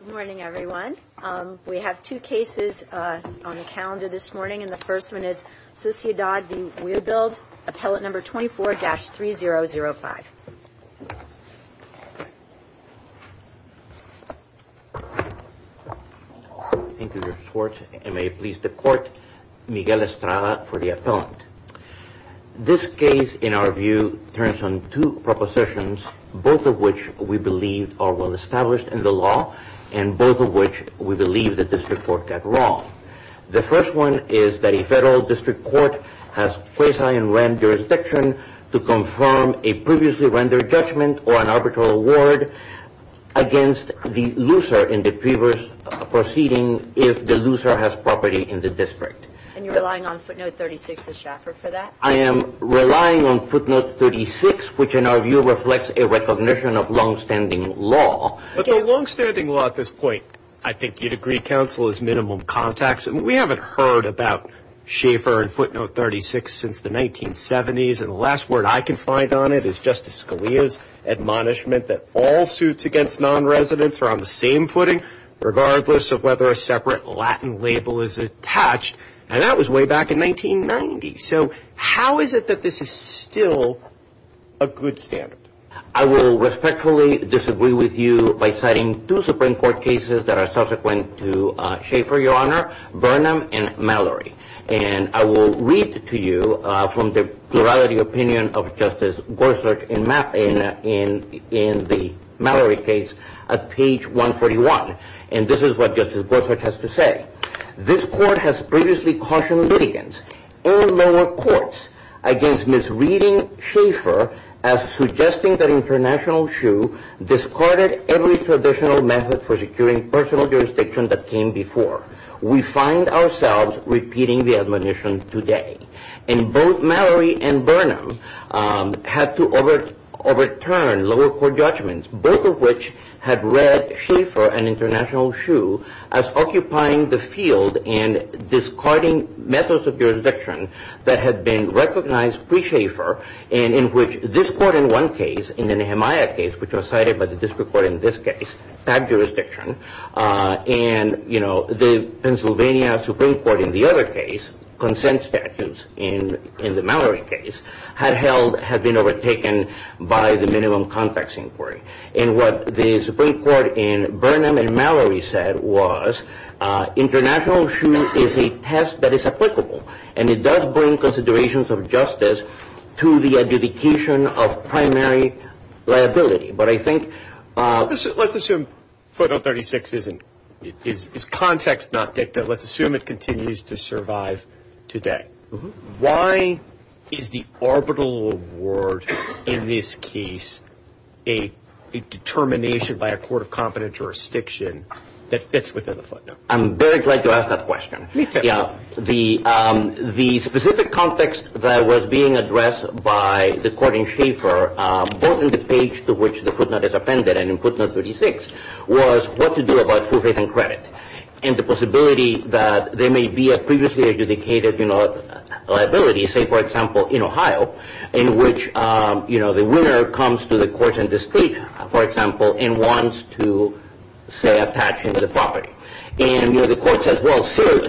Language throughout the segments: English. Good morning, everyone. We have two cases on the calendar this morning, and the first one is Sociedad v. Webuild, appellate number 24-3005. Thank you, Justice Schwartz, and may it please the Court, Miguel Estrada for the appellant. This case, in our view, turns on two propositions, both of which we believe are well-established in the law, and both of which we believe the district court got wrong. The first one is that a federal district court has quasi-unwrapped jurisdiction to confirm a previously rendered judgment or an arbitral award against the loser in the previous proceeding if the loser has property in the district. And you're relying on footnote 36 of Schaeffer for that? I am relying on footnote 36, which, in our view, reflects a recognition of longstanding law. But the longstanding law at this point, I think you'd agree, counsel, is minimum contacts. We haven't heard about Schaeffer and footnote 36 since the 1970s, and the last word I can find on it is Justice Scalia's admonishment that all suits against nonresidents are on the same footing, regardless of whether a separate Latin label is attached. And that was way back in 1990. So how is it that this is still a good standard? I will respectfully disagree with you by citing two Supreme Court cases that are subsequent to Schaeffer, Your Honor, Burnham and Mallory. And I will read to you from the plurality opinion of Justice Gorsuch in the Mallory case at page 141. And this is what Justice Gorsuch has to say. This court has previously cautioned litigants and lower courts against misreading Schaeffer as suggesting that International Shoe discarded every traditional method for securing personal jurisdiction that came before. We find ourselves repeating the admonition today. And both Mallory and Burnham had to overturn lower court judgments, both of which had read Schaeffer and International Shoe as occupying the field and discarding methods of jurisdiction that had been recognized pre-Schaeffer, and in which this court in one case, in the Nehemiah case, which was cited by the district court in this case, had jurisdiction. And the Pennsylvania Supreme Court in the other case, consent statutes in the Mallory case, had been overtaken by the minimum context inquiry. And what the Supreme Court in Burnham and Mallory said was International Shoe is a test that is applicable, and it does bring considerations of justice to the adjudication of primary liability. Let's assume footnote 36 is context, not dicta. Let's assume it continues to survive today. Why is the orbital award in this case a determination by a court of competent jurisdiction that fits within the footnote? I'm very glad you asked that question. The specific context that was being addressed by the court in Schaeffer, both in the page to which the footnote is appended and in footnote 36, was what to do about full faith and credit and the possibility that there may be a previously adjudicated liability, say, for example, in Ohio, in which the winner comes to the court in the state, for example, and wants to, say, attach into the property. And the court says, well, sir,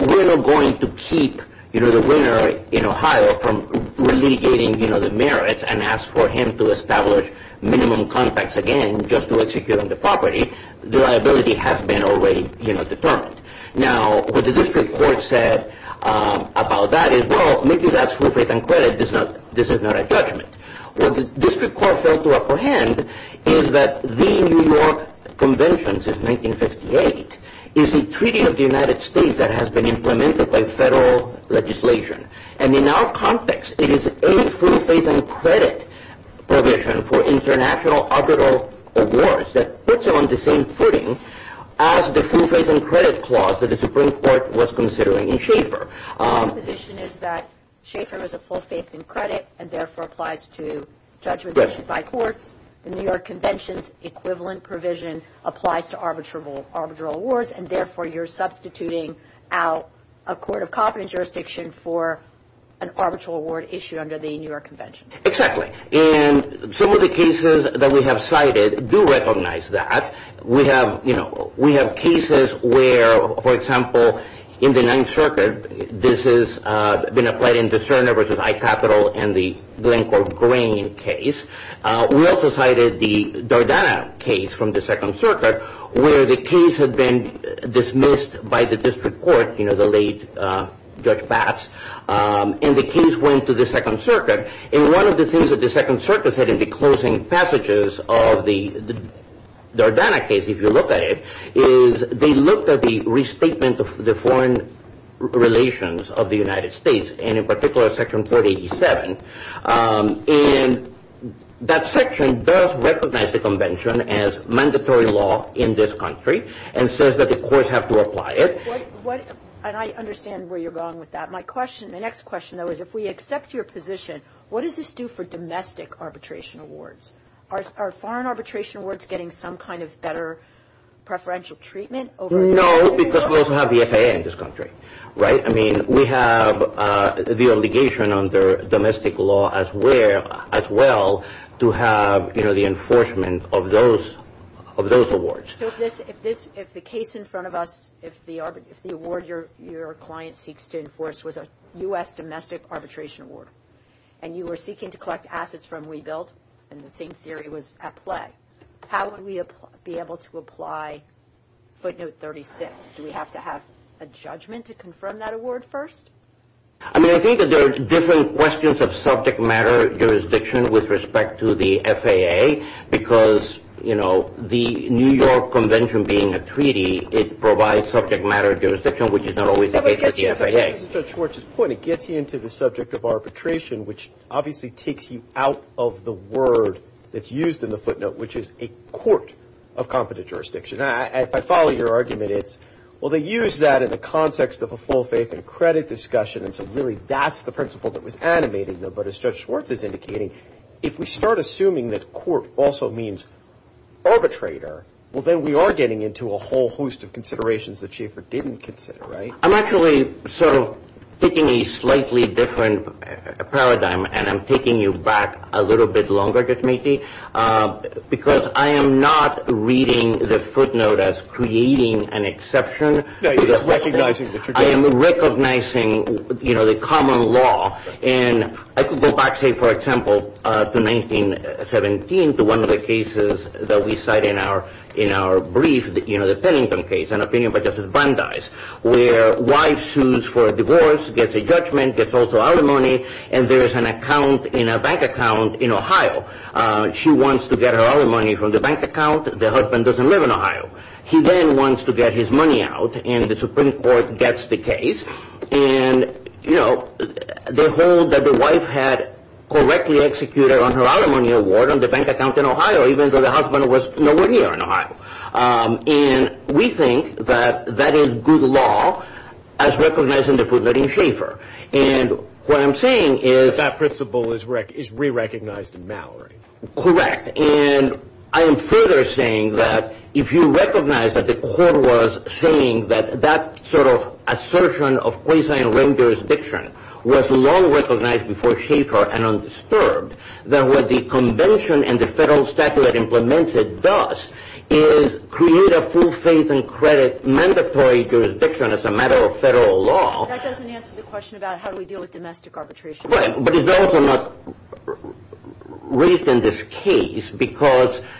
we're not going to keep the winner in Ohio from relitigating the merits and ask for him to establish minimum context again just to execute on the property. The liability has been already determined. Now, what the district court said about that is, well, maybe that's full faith and credit. This is not a judgment. What the district court failed to apprehend is that the New York Convention since 1958 is a treaty of the United States that has been implemented by federal legislation. And in our context, it is a full faith and credit provision for international orbital awards that puts it on the same footing as the full faith and credit clause that the Supreme Court was considering in Schaeffer. My position is that Schaeffer is a full faith and credit and, therefore, applies to judgment issued by courts. The New York Convention's equivalent provision applies to arbitral awards, and, therefore, you're substituting out a court of competence jurisdiction for an arbitral award issued under the New York Convention. Exactly. And some of the cases that we have cited do recognize that. We have, you know, we have cases where, for example, in the Ninth Circuit, this has been applied in the Cerner v. I. Capital and the Glencore Grain case. We also cited the Dardana case from the Second Circuit where the case had been dismissed by the district court, you know, the late Judge Batts, and the case went to the Second Circuit. And one of the things that the Second Circuit said in the closing passages of the Dardana case, if you look at it, is they looked at the restatement of the foreign relations of the United States, and in particular Section 487, and that section does recognize the convention as mandatory law in this country and says that the courts have to apply it. And I understand where you're going with that. My question, my next question, though, is if we accept your position, what does this do for domestic arbitration awards? Are foreign arbitration awards getting some kind of better preferential treatment? No, because we also have the FAA in this country, right? I mean, we have the obligation under domestic law as well to have, you know, the enforcement of those awards. So if the case in front of us, if the award your client seeks to enforce was a U.S. domestic arbitration award and you were seeking to collect assets from rebuilt and the same theory was at play, how would we be able to apply footnote 36? Do we have to have a judgment to confirm that award first? I mean, I think that there are different questions of subject matter jurisdiction with respect to the FAA because, you know, the New York Convention being a treaty, it provides subject matter jurisdiction, which is not always the case with the FAA. This is Judge Schwartz's point. It gets you into the subject of arbitration, which obviously takes you out of the word that's used in the footnote, which is a court of competent jurisdiction. If I follow your argument, it's, well, they use that in the context of a full faith and credit discussion, and so really that's the principle that was animated there. But as Judge Schwartz is indicating, if we start assuming that court also means arbitrator, well, then we are getting into a whole host of considerations that Schaeffer didn't consider, right? I'm actually sort of taking a slightly different paradigm, and I'm taking you back a little bit longer, Judge Matee, because I am not reading the footnote as creating an exception. No, you're just recognizing that you're doing it. I am recognizing, you know, the common law, and I could go back, say, for example, to 1917, to one of the cases that we cite in our brief, you know, the Pennington case, an opinion by Justice Brandeis, where a wife sues for a divorce, gets a judgment, gets also alimony, and there is an account in a bank account in Ohio. She wants to get her alimony from the bank account. The husband doesn't live in Ohio. He then wants to get his money out, and the Supreme Court gets the case, and, you know, they hold that the wife had correctly executed on her alimony award on the bank account in Ohio, even though the husband was nowhere near in Ohio. And we think that that is good law as recognized in the footnote in Schaeffer. And what I'm saying is – But that principle is re-recognized in Mallory. Correct. And I am further saying that if you recognize that the court was saying that that sort of assertion of quasi-arraigned jurisdiction was long recognized before Schaeffer and undisturbed, then what the convention and the federal statute that implements it does is create a full faith and credit mandatory jurisdiction as a matter of federal law. That doesn't answer the question about how do we deal with domestic arbitration. But it's also not raised in this case because –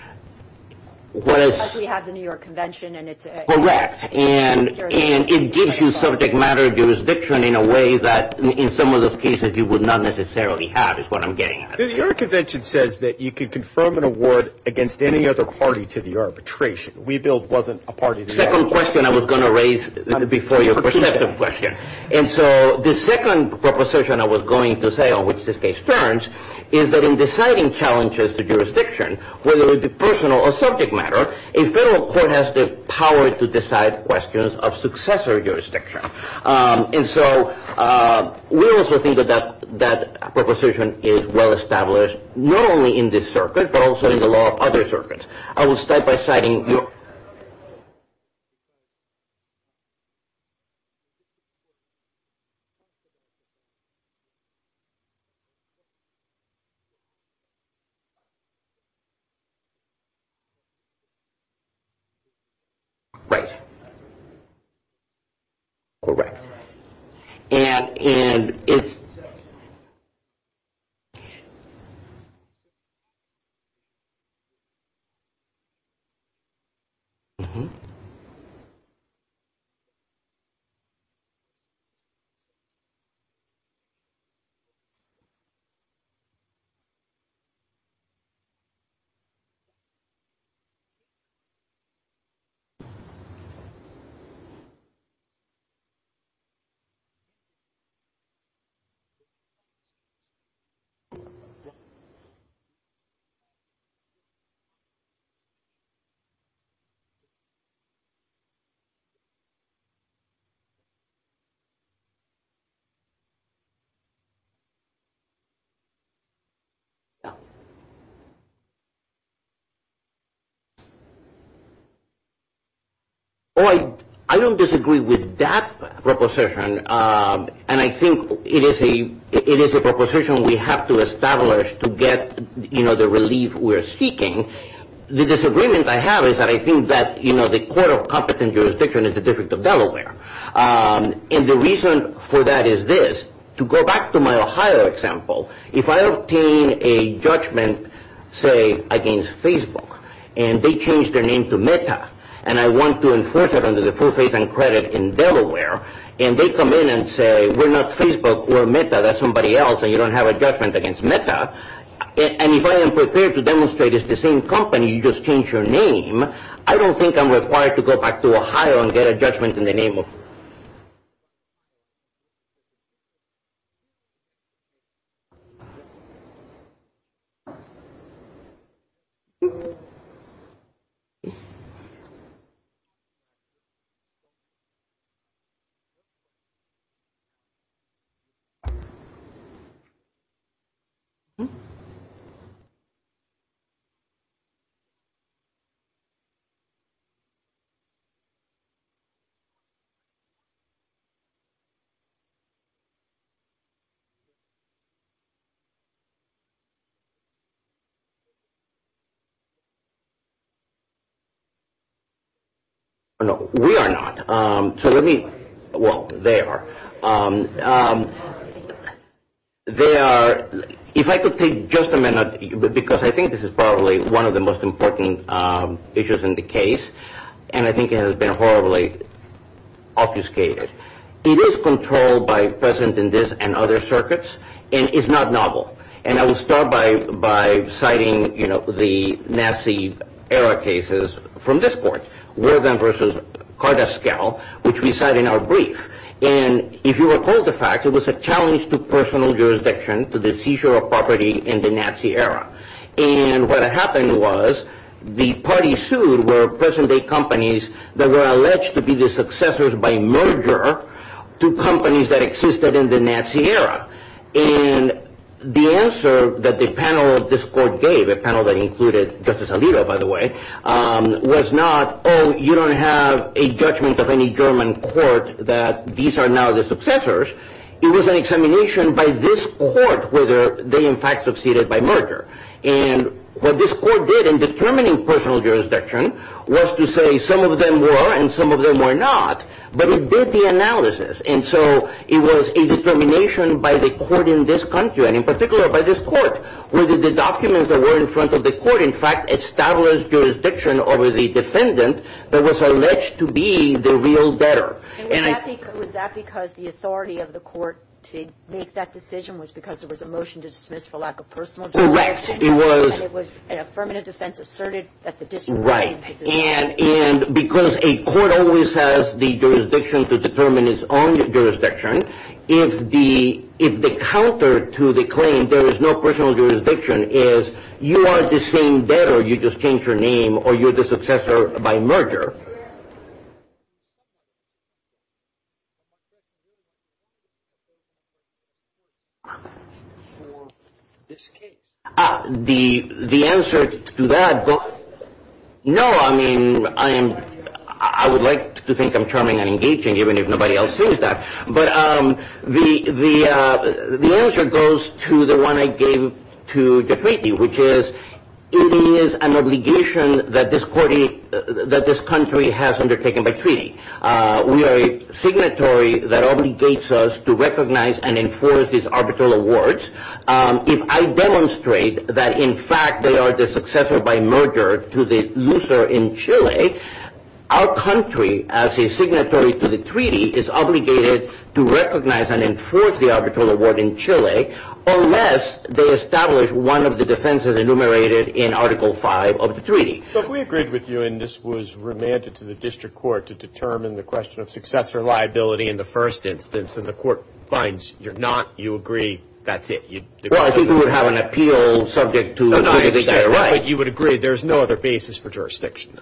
Because we have the New York Convention, and it's – Correct. And it gives you subject matter jurisdiction in a way that in some of those cases you would not necessarily have, is what I'm getting at. The New York Convention says that you can confirm an award against any other party to the arbitration. WeBuild wasn't a party to the arbitration. The second question I was going to raise before your perceptive question. And so the second proposition I was going to say on which this case turns is that in deciding challenges to jurisdiction, whether it be personal or subject matter, a federal court has the power to decide questions of successor jurisdiction. And so we also think that that proposition is well established, not only in this circuit, but also in the law of other circuits. I will start by citing your – Right. Correct. And it's – Okay. Okay. I don't disagree with that proposition. And I think it is a proposition we have to establish to get, you know, the relief we're seeking. The disagreement I have is that I think that, you know, the Court of Competent Jurisdiction is the District of Delaware. And the reason for that is this. To go back to my Ohio example, if I obtain a judgment, say, against Facebook, and they change their name to Meta, and I want to enforce it under the full faith and credit in Delaware, and they come in and say, we're not Facebook, we're Meta, that's somebody else, and you don't have a judgment against Meta, and if I am prepared to demonstrate it's the same company, you just change your name, I don't think I'm required to go back to Ohio and get a judgment in the name of – Okay. No, we are not. So let me – well, they are. They are – if I could take just a minute, because I think this is probably one of the most important issues in the case, and I think it has been horribly obfuscated. It is controlled by present in this and other circuits, and it's not novel. And I will start by citing, you know, the Nazi era cases from this court, Worgen versus Kardaskel, which we cite in our brief. And if you recall the fact, it was a challenge to personal jurisdiction, to the seizure of property in the Nazi era. And what happened was the party sued were present-day companies that were alleged to be the successors by merger to companies that existed in the Nazi era. And the answer that the panel of this court gave, a panel that included Justice Alito, by the way, was not, oh, you don't have a judgment of any German court that these are now the successors. It was an examination by this court whether they in fact succeeded by merger. And what this court did in determining personal jurisdiction was to say some of them were and some of them were not, but it did the analysis. And so it was a determination by the court in this country, and in particular by this court, whether the documents that were in front of the court in fact established jurisdiction over the defendant that was alleged to be the real debtor. And was that because the authority of the court to make that decision was because there was a motion to dismiss for lack of personal jurisdiction? Correct. It was. And it was an affirmative defense asserted that the district court had to dismiss. And because a court always has the jurisdiction to determine its own jurisdiction, if the counter to the claim there is no personal jurisdiction is you are the same debtor, you just changed your name, or you're the successor by merger. The answer to that, no, I mean, I would like to think I'm charming and engaging even if nobody else says that. But the answer goes to the one I gave to Jeff Meekey, which is it is an obligation that this country has to make a decision on its own. We are a signatory that obligates us to recognize and enforce these arbitral awards. If I demonstrate that, in fact, they are the successor by merger to the loser in Chile, our country, as a signatory to the treaty, is obligated to recognize and enforce the arbitral award in Chile, unless they establish one of the defenses enumerated in Article V of the treaty. So if we agreed with you, and this was remanded to the district court to determine the question of successor liability in the first instance, and the court finds you're not, you agree, that's it. Well, I think we would have an appeal subject to the judiciary. But you would agree there's no other basis for jurisdiction.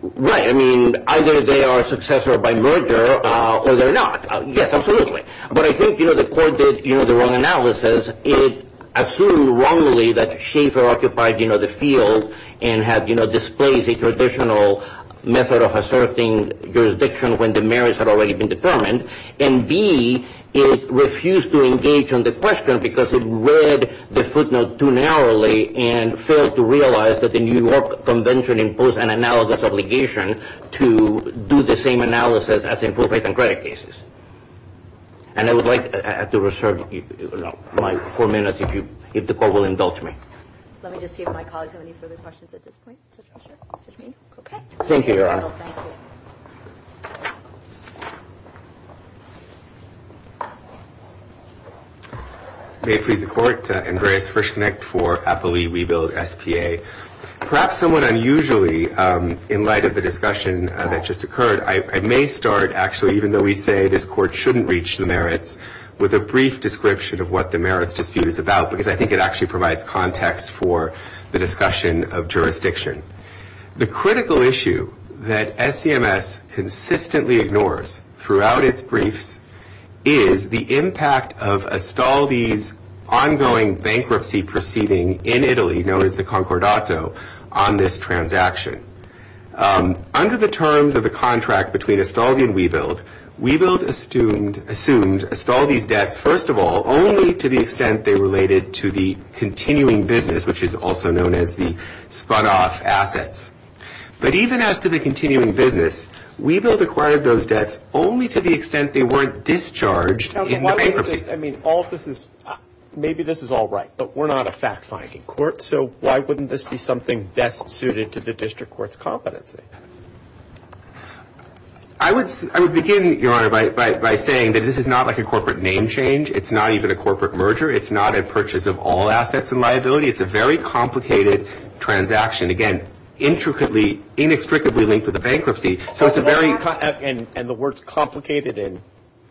Right. I mean, either they are successor by merger or they're not. Yes, absolutely. But I think, you know, the court did, you know, the wrong analysis. It assumed wrongly that Schaefer occupied, you know, the field and had, you know, displaced a traditional method of asserting jurisdiction when the merits had already been determined. And, B, it refused to engage on the question because it read the footnote too narrowly and failed to realize that the New York Convention imposed an analogous obligation to do the same analysis as in proof-based and credit cases. And I would like to reserve my four minutes if the court will indulge me. Let me just see if my colleagues have any further questions at this point. Okay. Thank you, Your Honor. Thank you. May it please the Court. Andreas Frischknecht for Applee Rebuild SPA. Perhaps somewhat unusually in light of the discussion that just occurred, I may start, actually, even though we say this court shouldn't reach the merits, with a brief description of what the merits dispute is about because I think it actually provides context for the discussion of jurisdiction. The critical issue that SCMS consistently ignores throughout its briefs is the impact of Astaldi's ongoing bankruptcy proceeding in Italy, known as the Concordato, on this transaction. Under the terms of the contract between Astaldi and Rebuild, Rebuild assumed Astaldi's debts, first of all, only to the extent they related to the continuing business, which is also known as the spun-off assets. But even as to the continuing business, Rebuild acquired those debts only to the extent they weren't discharged in the bankruptcy. I mean, all this is – maybe this is all right, but we're not a fact-finding court, so why wouldn't this be something best suited to the district court's competency? I would begin, Your Honor, by saying that this is not like a corporate name change. It's not even a corporate merger. It's not a purchase of all assets and liability. It's a very complicated transaction, again, intricately, inextricably linked to the bankruptcy. So it's a very – And the words complicated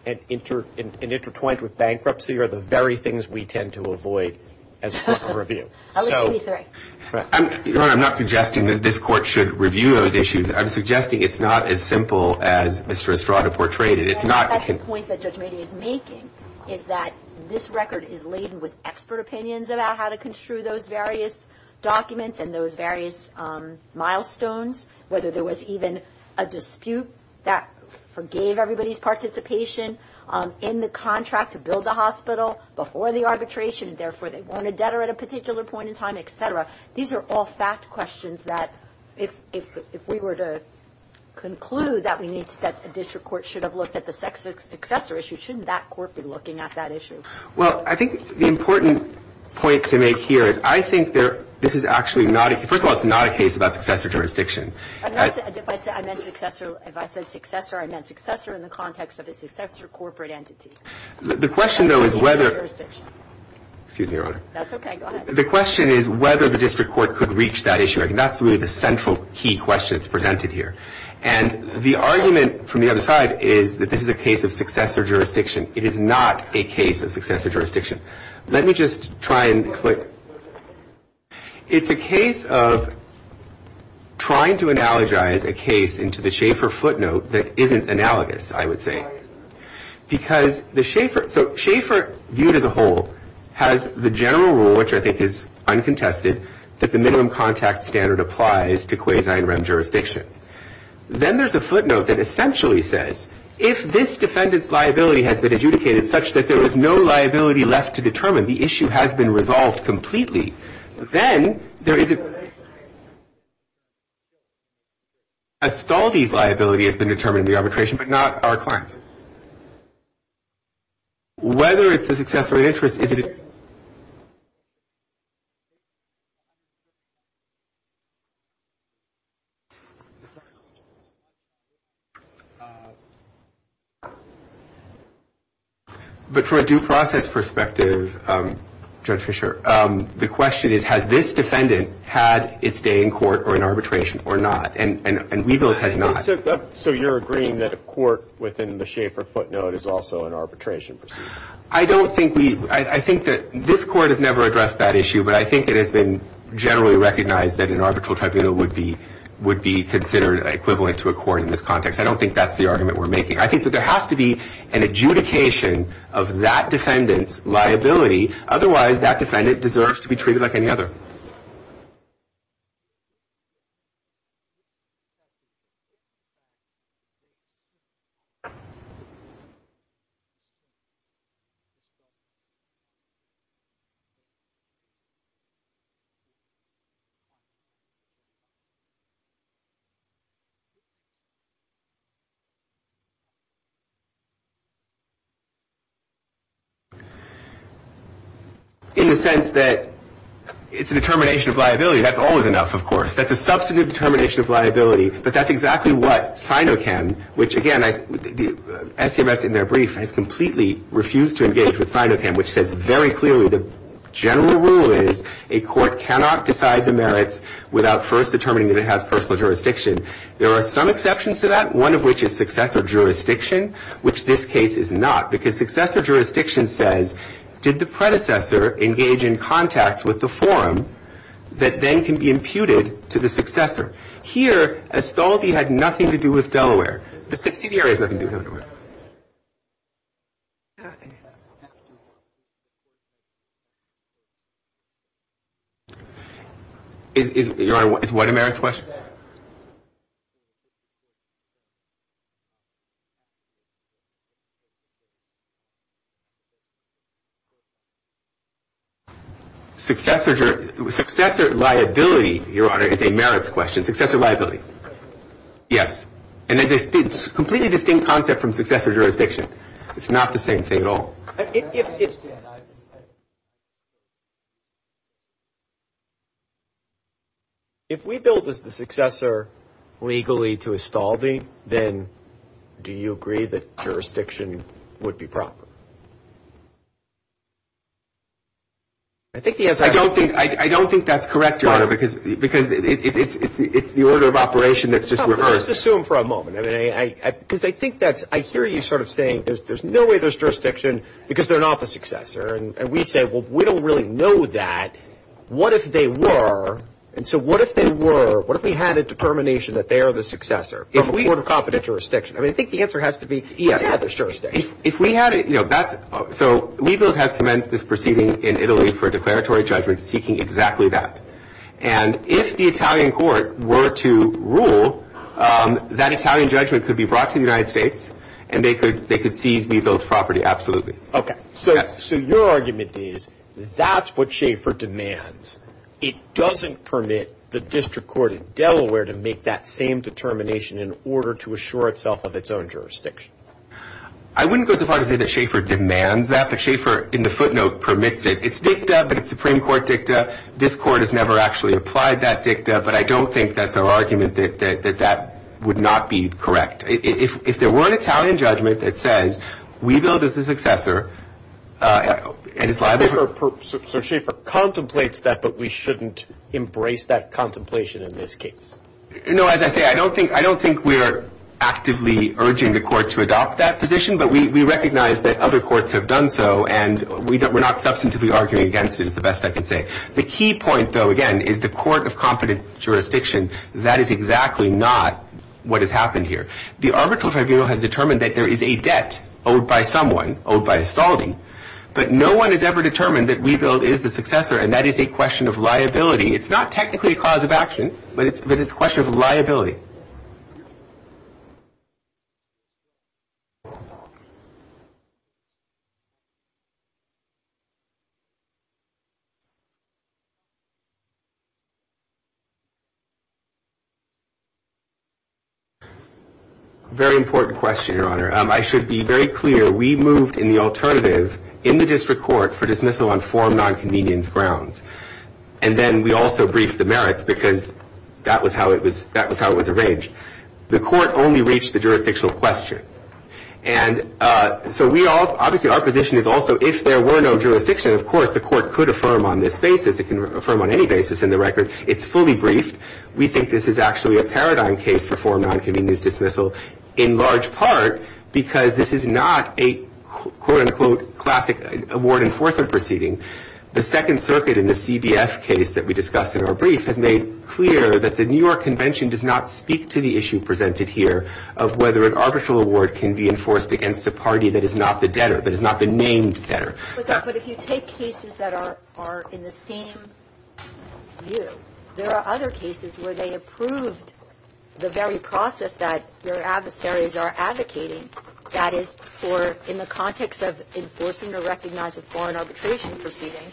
and intertwined with bankruptcy are the very things we tend to avoid as a court of review. Your Honor, I'm not suggesting that this court should review those issues. I'm suggesting it's not as simple as Mr. Estrada portrayed it. It's not – I think that's the point that Judge Mady is making, is that this record is laden with expert opinions about how to construe those various documents and those various milestones, whether there was even a dispute that forgave everybody's participation in the contract to build the hospital before the arbitration, therefore they wanted debtor at a particular point in time, et cetera. These are all fact questions that if we were to conclude that we need – that a district court should have looked at the successor issue, shouldn't that court be looking at that issue? Well, I think the important point to make here is I think this is actually not – first of all, it's not a case about successor jurisdiction. If I said successor, I meant successor in the context of a successor corporate entity. The question, though, is whether – Excuse me, Your Honor. That's okay. Go ahead. The question is whether the district court could reach that issue. I think that's really the central key question that's presented here. And the argument from the other side is that this is a case of successor jurisdiction. It is not a case of successor jurisdiction. Let me just try and explain. It's a case of trying to analogize a case into the Schaeffer footnote that isn't analogous, I would say. Why? Because the Schaeffer – so Schaeffer viewed as a whole has the general rule, which I think is uncontested, that the minimum contact standard applies to quasi-REM jurisdiction. Then there's a footnote that essentially says if this defendant's liability has been adjudicated such that there is no liability left to determine, the issue has been resolved completely, then there is a – a stall of these liabilities has been determined in the arbitration, but not our clients. Whether it's a success or an interest is – But for a due process perspective, Judge Fischer, the question is has this defendant had its day in court or in arbitration or not? And Weebill has not. So you're agreeing that a court within the Schaeffer footnote is also an arbitration proceeding? I don't think we – I think that – This court has never addressed that issue, but I think it has been generally recognized that an arbitral tribunal would be considered equivalent to a court in this context. I don't think that's the argument we're making. I think that there has to be an adjudication of that defendant's liability. Otherwise, that defendant deserves to be treated like any other. In the sense that it's a determination of liability, that's always enough, of course. That's a substantive determination of liability, but that's exactly what Sinocam, which again, the – SCMS in their brief has completely refused to engage with Sinocam, which says very clearly that the SINOCAM is a liability. The general rule is a court cannot decide the merits without first determining that it has personal jurisdiction. There are some exceptions to that, one of which is successor jurisdiction, which this case is not, because successor jurisdiction says, did the predecessor engage in contacts with the forum that then can be imputed to the successor? Here, Estaldi had nothing to do with Delaware. The subsidiary has nothing to do with Delaware. Your Honor, is what a merits question? Successor liability, Your Honor, is a merits question. Successor liability, yes. And it's a completely distinct concept from successor jurisdiction. It's not the same thing at all. I understand. If we billed as the successor legally to Estaldi, then do you agree that jurisdiction would be proper? I don't think that's correct, Your Honor, because it's the order of operation that's just reversed. Let's assume for a moment. I hear you sort of saying there's no way there's jurisdiction because they're not the successor. And we say, well, we don't really know that. What if they were? And so what if they were? What if we had a determination that they are the successor from a court of competent jurisdiction? I mean, I think the answer has to be yes, there's jurisdiction. If we had it, you know, that's – so we billed as commenced this proceeding in Italy for a declaratory judgment seeking exactly that. And if the Italian court were to rule, that Italian judgment could be brought to the United States and they could seize the billed property. So your argument is that's what Schaefer demands. It doesn't permit the district court in Delaware to make that same determination in order to assure itself of its own jurisdiction. I wouldn't go so far as to say that Schaefer demands that, but Schaefer in the footnote permits it. It's dicta, but it's Supreme Court dicta. This court has never actually applied that dicta, but I don't think that's our argument that that would not be correct. If there were an Italian judgment that says we billed as a successor and it's liable – So Schaefer contemplates that, but we shouldn't embrace that contemplation in this case. No, as I say, I don't think we're actively urging the court to adopt that position, but we recognize that other courts have done so and we're not substantively arguing against it is the best I can say. The key point, though, again, is the court of competent jurisdiction. That is exactly not what has happened here. The arbitral tribunal has determined that there is a debt owed by someone, owed by Estaldi, but no one has ever determined that we billed as the successor, and that is a question of liability. It's not technically a cause of action, but it's a question of liability. Very important question, Your Honor. I should be very clear, we moved in the alternative in the district court for dismissal on four nonconvenience grounds, and then we also briefed the merits because that was how it was arranged. The court only reached the jurisdictional question, and so obviously our position is also if there were no jurisdiction, of course the court could affirm on this basis, it can affirm on any basis in the record. It's fully briefed. We think this is actually a paradigm case for four nonconvenience dismissal in large part because this is not a quote-unquote classic award enforcement proceeding. The Second Circuit in the CBF case that we discussed in our brief has made clear that the New York Convention does not speak to the issue presented here of whether an arbitral award can be enforced against a party that is not the debtor, that has not been named debtor. But if you take cases that are in the same view, there are other cases where they approved the very process that their adversaries are advocating, that is for in the context of enforcing or recognizing foreign arbitration proceeding,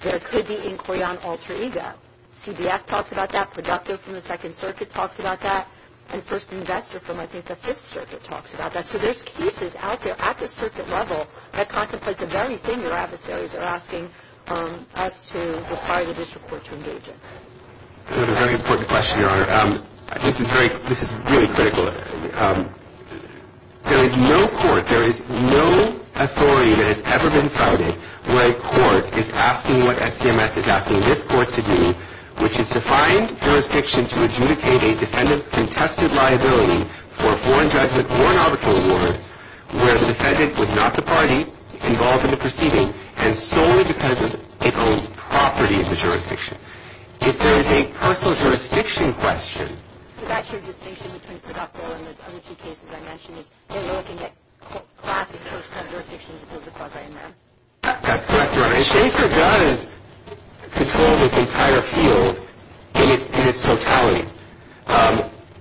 there could be inquiry on alter ego. CBF talks about that. The doctor from the Second Circuit talks about that, and First Investor from I think the Fifth Circuit talks about that. So there's cases out there at the circuit level that contemplate the very thing their adversaries are asking us to require the district court to engage in. That's a very important question, Your Honor. This is really critical. There is no court, there is no authority that has ever been cited where a court is asking what SCMS is asking this court to do, which is to find jurisdiction to adjudicate a defendant's contested liability for a foreign judgment or an arbitral award where the defendant was not the party involved in the proceeding and solely because it owns property in the jurisdiction. If there is a personal jurisdiction question... But that's your distinction between Producto and the two cases I mentioned, is that no one can get class in terms of jurisdiction as opposed to Procter & Gamble. That's correct, Your Honor. And Schaefer does control this entire field in its totality.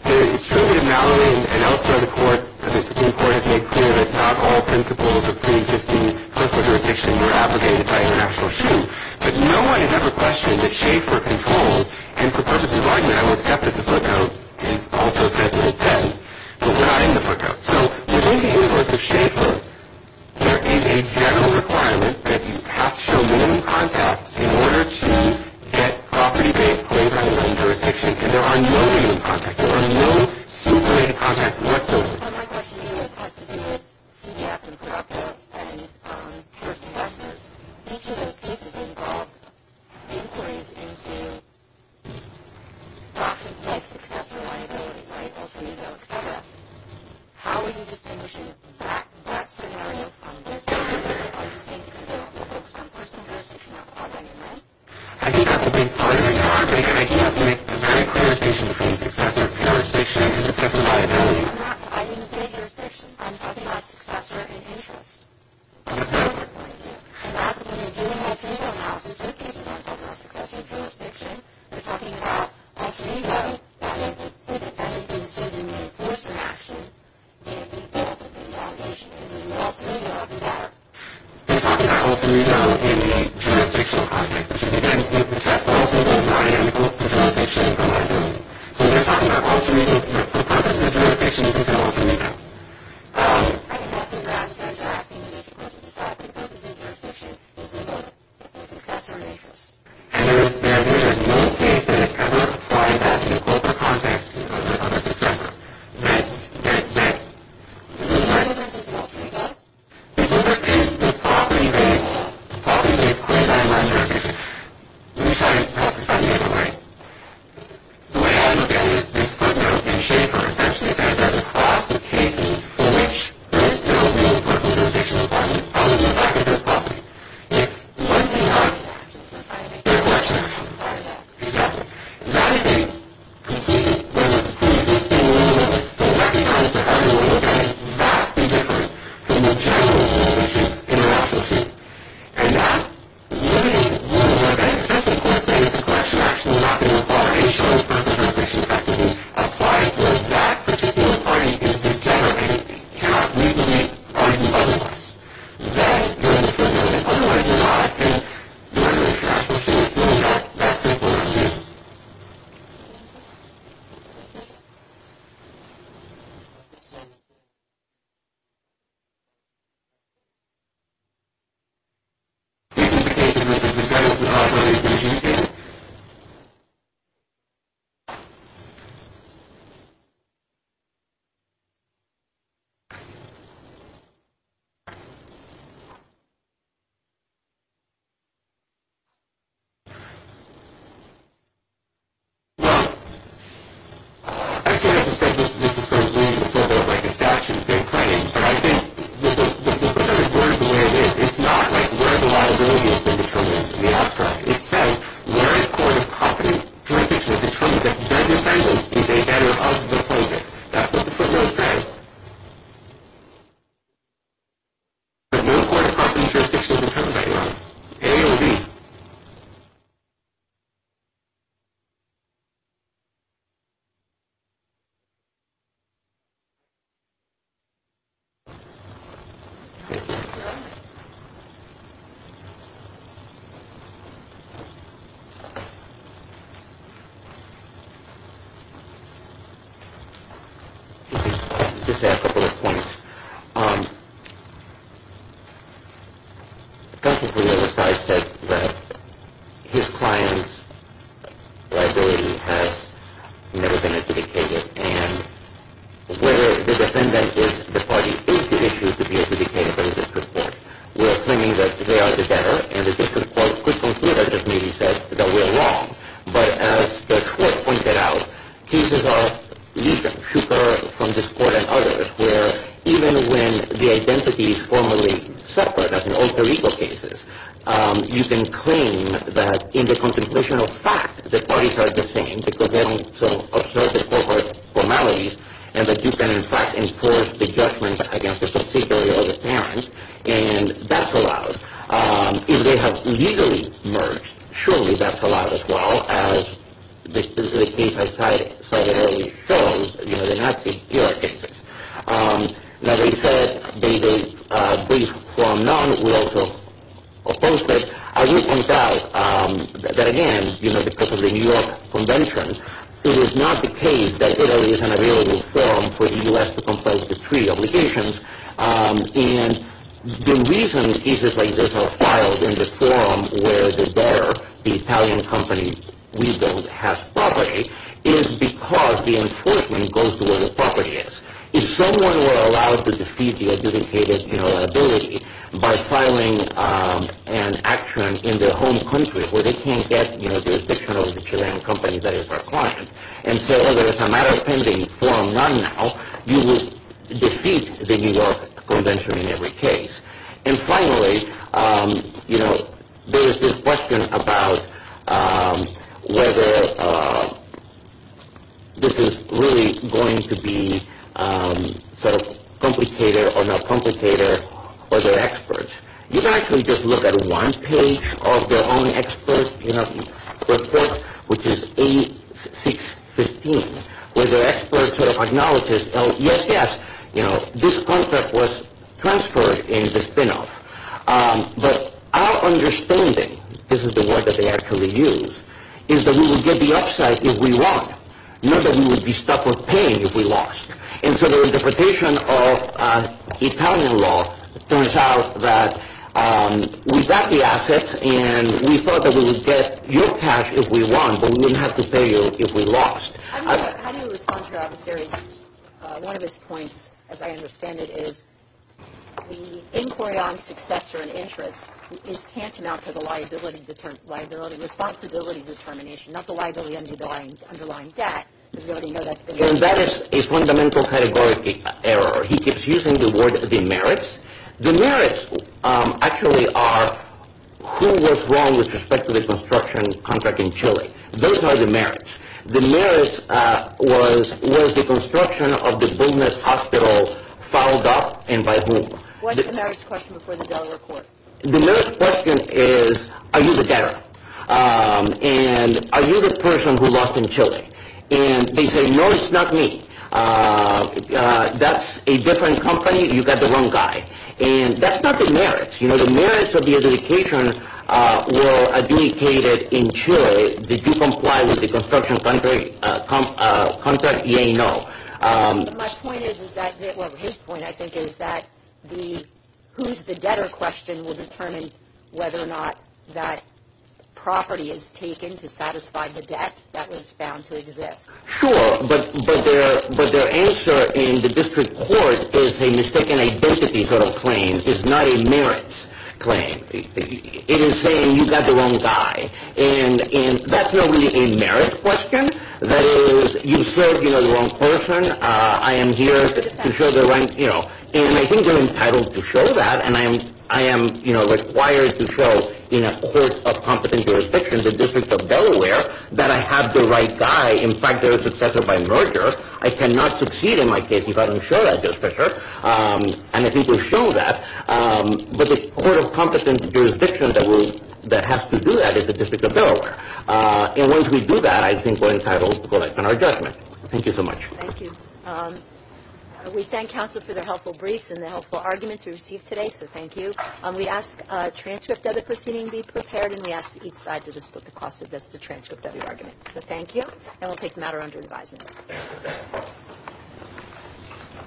It's true that Mallory and elsewhere in the court, the discipline court, have made clear that not all principles of preexisting classical jurisdiction were abrogated by international shoe, but no one has ever questioned that Schaefer controls. And for purposes of argument, I will accept that the footnote is also sensible in a sense, but we're not in the footnote. So within the universe of Schaefer, there is a general requirement that you have to show minimum contacts in order to get property-based claims under the jurisdiction, and there are no minimum contacts. There are no super-minimum contacts whatsoever. So my question to you has to do with CDF and Procter & Gamble and first investors. Each of those cases involved inquiries into life success and liability, life alternative, et cetera. How are you distinguishing that scenario from this scenario? Are you saying because they're focused on personal jurisdiction, you're not clausing in them? I think that's a big part of the topic, and I do have to make a very clear distinction between successor jurisdiction and successor liability. No, I'm not providing the same jurisdiction. I'm talking about successor in interest. I'm not overpointing you. I'm asking that when you're doing alternative analysis, those cases aren't talking about successor jurisdiction. They're talking about alternative that may be predefined in the suit and may be imposed in action. They may be filled with invalidation. It's an alternative of the latter. They're talking about alternative in the jurisdictional context, which is, again, you can test both of those. I am focused on jurisdiction. I'm not doing it. So they're talking about alternative, but the purpose of jurisdiction is still alternative. I'm asking that because you're asking me to decide what the purpose of jurisdiction is without the successor in interest. And there is no case that I've ever tried that in the corporate context in terms of a successor. Then, then, then, the relevance of the alternative is the property base. The property base is clearly not in line with jurisdiction. Let me try to classify it another way. The way I look at it is this footnote in shape of a succession says there's a class of cases for which there is no real corporate jurisdiction requirement out in the back of this property. If, once in time, there were jurisdiction requirements, exactly, that is a completely different, preexisting, the way I look at it is vastly different from the general rule, which is in the national sheet. And that limited rule, which I think essentially coincides with the collection of national mapping requires that that particular party is degenerate and cannot reasonably find otherwise. Then you're in the footnote, and the alternative, I think, where you're trying to show that that's important. This is the case in which there's no general jurisdiction. Well, I say this is sort of leading the footnote like a statue in claim, but I think the footnote is worded the way it is. It's not like where the liability has been determined in the abstract. It says where a court of property jurisdiction determines that the defendant is a debtor of the project. That's what the footnote says. There's no court of property jurisdiction that determines that you're a AOB. Thank you. Just to add a couple of points. Counsel for the other side said that his client's liability has never been adjudicated, and whether the defendant is the party is the issue to be adjudicated by the district court. We're claiming that they are the debtor, and the district court could consider, just maybe, that we're wrong. But as Judge Schwartz pointed out, cases are usually superior from this court and others, where even when the identity is formally separate, as in alter ego cases, you can claim that in the contemplation of fact the parties are the same because they don't observe the corporate formalities, and that you can, in fact, enforce the judgment against the subsidiary or the parent, and that's allowed. If they have legally merged, surely that's allowed as well, as the case I cited earlier shows, the Nazi-Georg cases. As I said, they form none. We also opposed it. I will point out that, again, because of the New York Convention, it is not the case that Italy is an available forum for the U.S. to compose the treaty obligations, and the reason cases like this are filed in the forum where the debtor, the Italian company, we don't have property, is because the enforcement goes to where the property is. If someone were allowed to defeat the adjudicated liability by filing an action in their home country, where they can't get the protection of the Chilean company, that is our caution, and so there is a matter pending, form none now, you would defeat the New York Convention in every case. And finally, there is this question about whether this is really going to be sort of complicated or not complicated for their experts. You can actually just look at one page of their own expert report, which is A615, where their experts sort of acknowledge, yes, yes, this contract was transferred in the spinoff, but our understanding, this is the word that they actually use, is that we would get the upside if we won, not that we would be stuck with paying if we lost. And so their interpretation of Italian law turns out that we got the assets and we thought that we would get your cash if we won, but we wouldn't have to pay you if we lost. How do you respond to one of his points, as I understand it, is the inquiry on successor and interest is tantamount to the liability determination, liability responsibility determination, not the liability underlying debt, as we already know that's been mentioned. And that is a fundamental categorical error. He keeps using the word the merits. The merits actually are who was wrong with respect to the construction contract in Chile. Those are the merits. The merits was, was the construction of the bonus hospital fouled up and by whom? What's the merits question before the Delaware court? The merits question is, are you the debtor? And are you the person who lost in Chile? And they say, no, it's not me. That's a different company. You got the wrong guy. And that's not the merits. You know, the merits of the adjudication were adjudicated in Chile. Did you comply with the construction contract? Yes and no. My point is that, well, his point I think is that the who's the debtor question will determine whether or not that property is taken to satisfy the debt that was found to exist. Sure, but their answer in the district court is a mistaken identity sort of claim. It's not a merits claim. It is saying you got the wrong guy. And that's not really a merits question. That is, you said, you know, the wrong person. I am here to show the right, you know. And I think they're entitled to show that. And I am, you know, required to show in a court of competent jurisdiction, the District of Delaware, that I have the right guy. In fact, they're a successor by merger. I cannot succeed in my case if I don't show that justicer. And I think we've shown that. But the court of competent jurisdiction that has to do that is the District of Delaware. And once we do that, I think we're entitled to collect on our judgment. Thank you so much. Thank you. We thank counsel for their helpful briefs and the helpful arguments we received today. So thank you. We ask a transcript of the proceeding be prepared. And we ask each side to just look across the desk to transcript of your argument. So thank you. And we'll take the matter under advisement.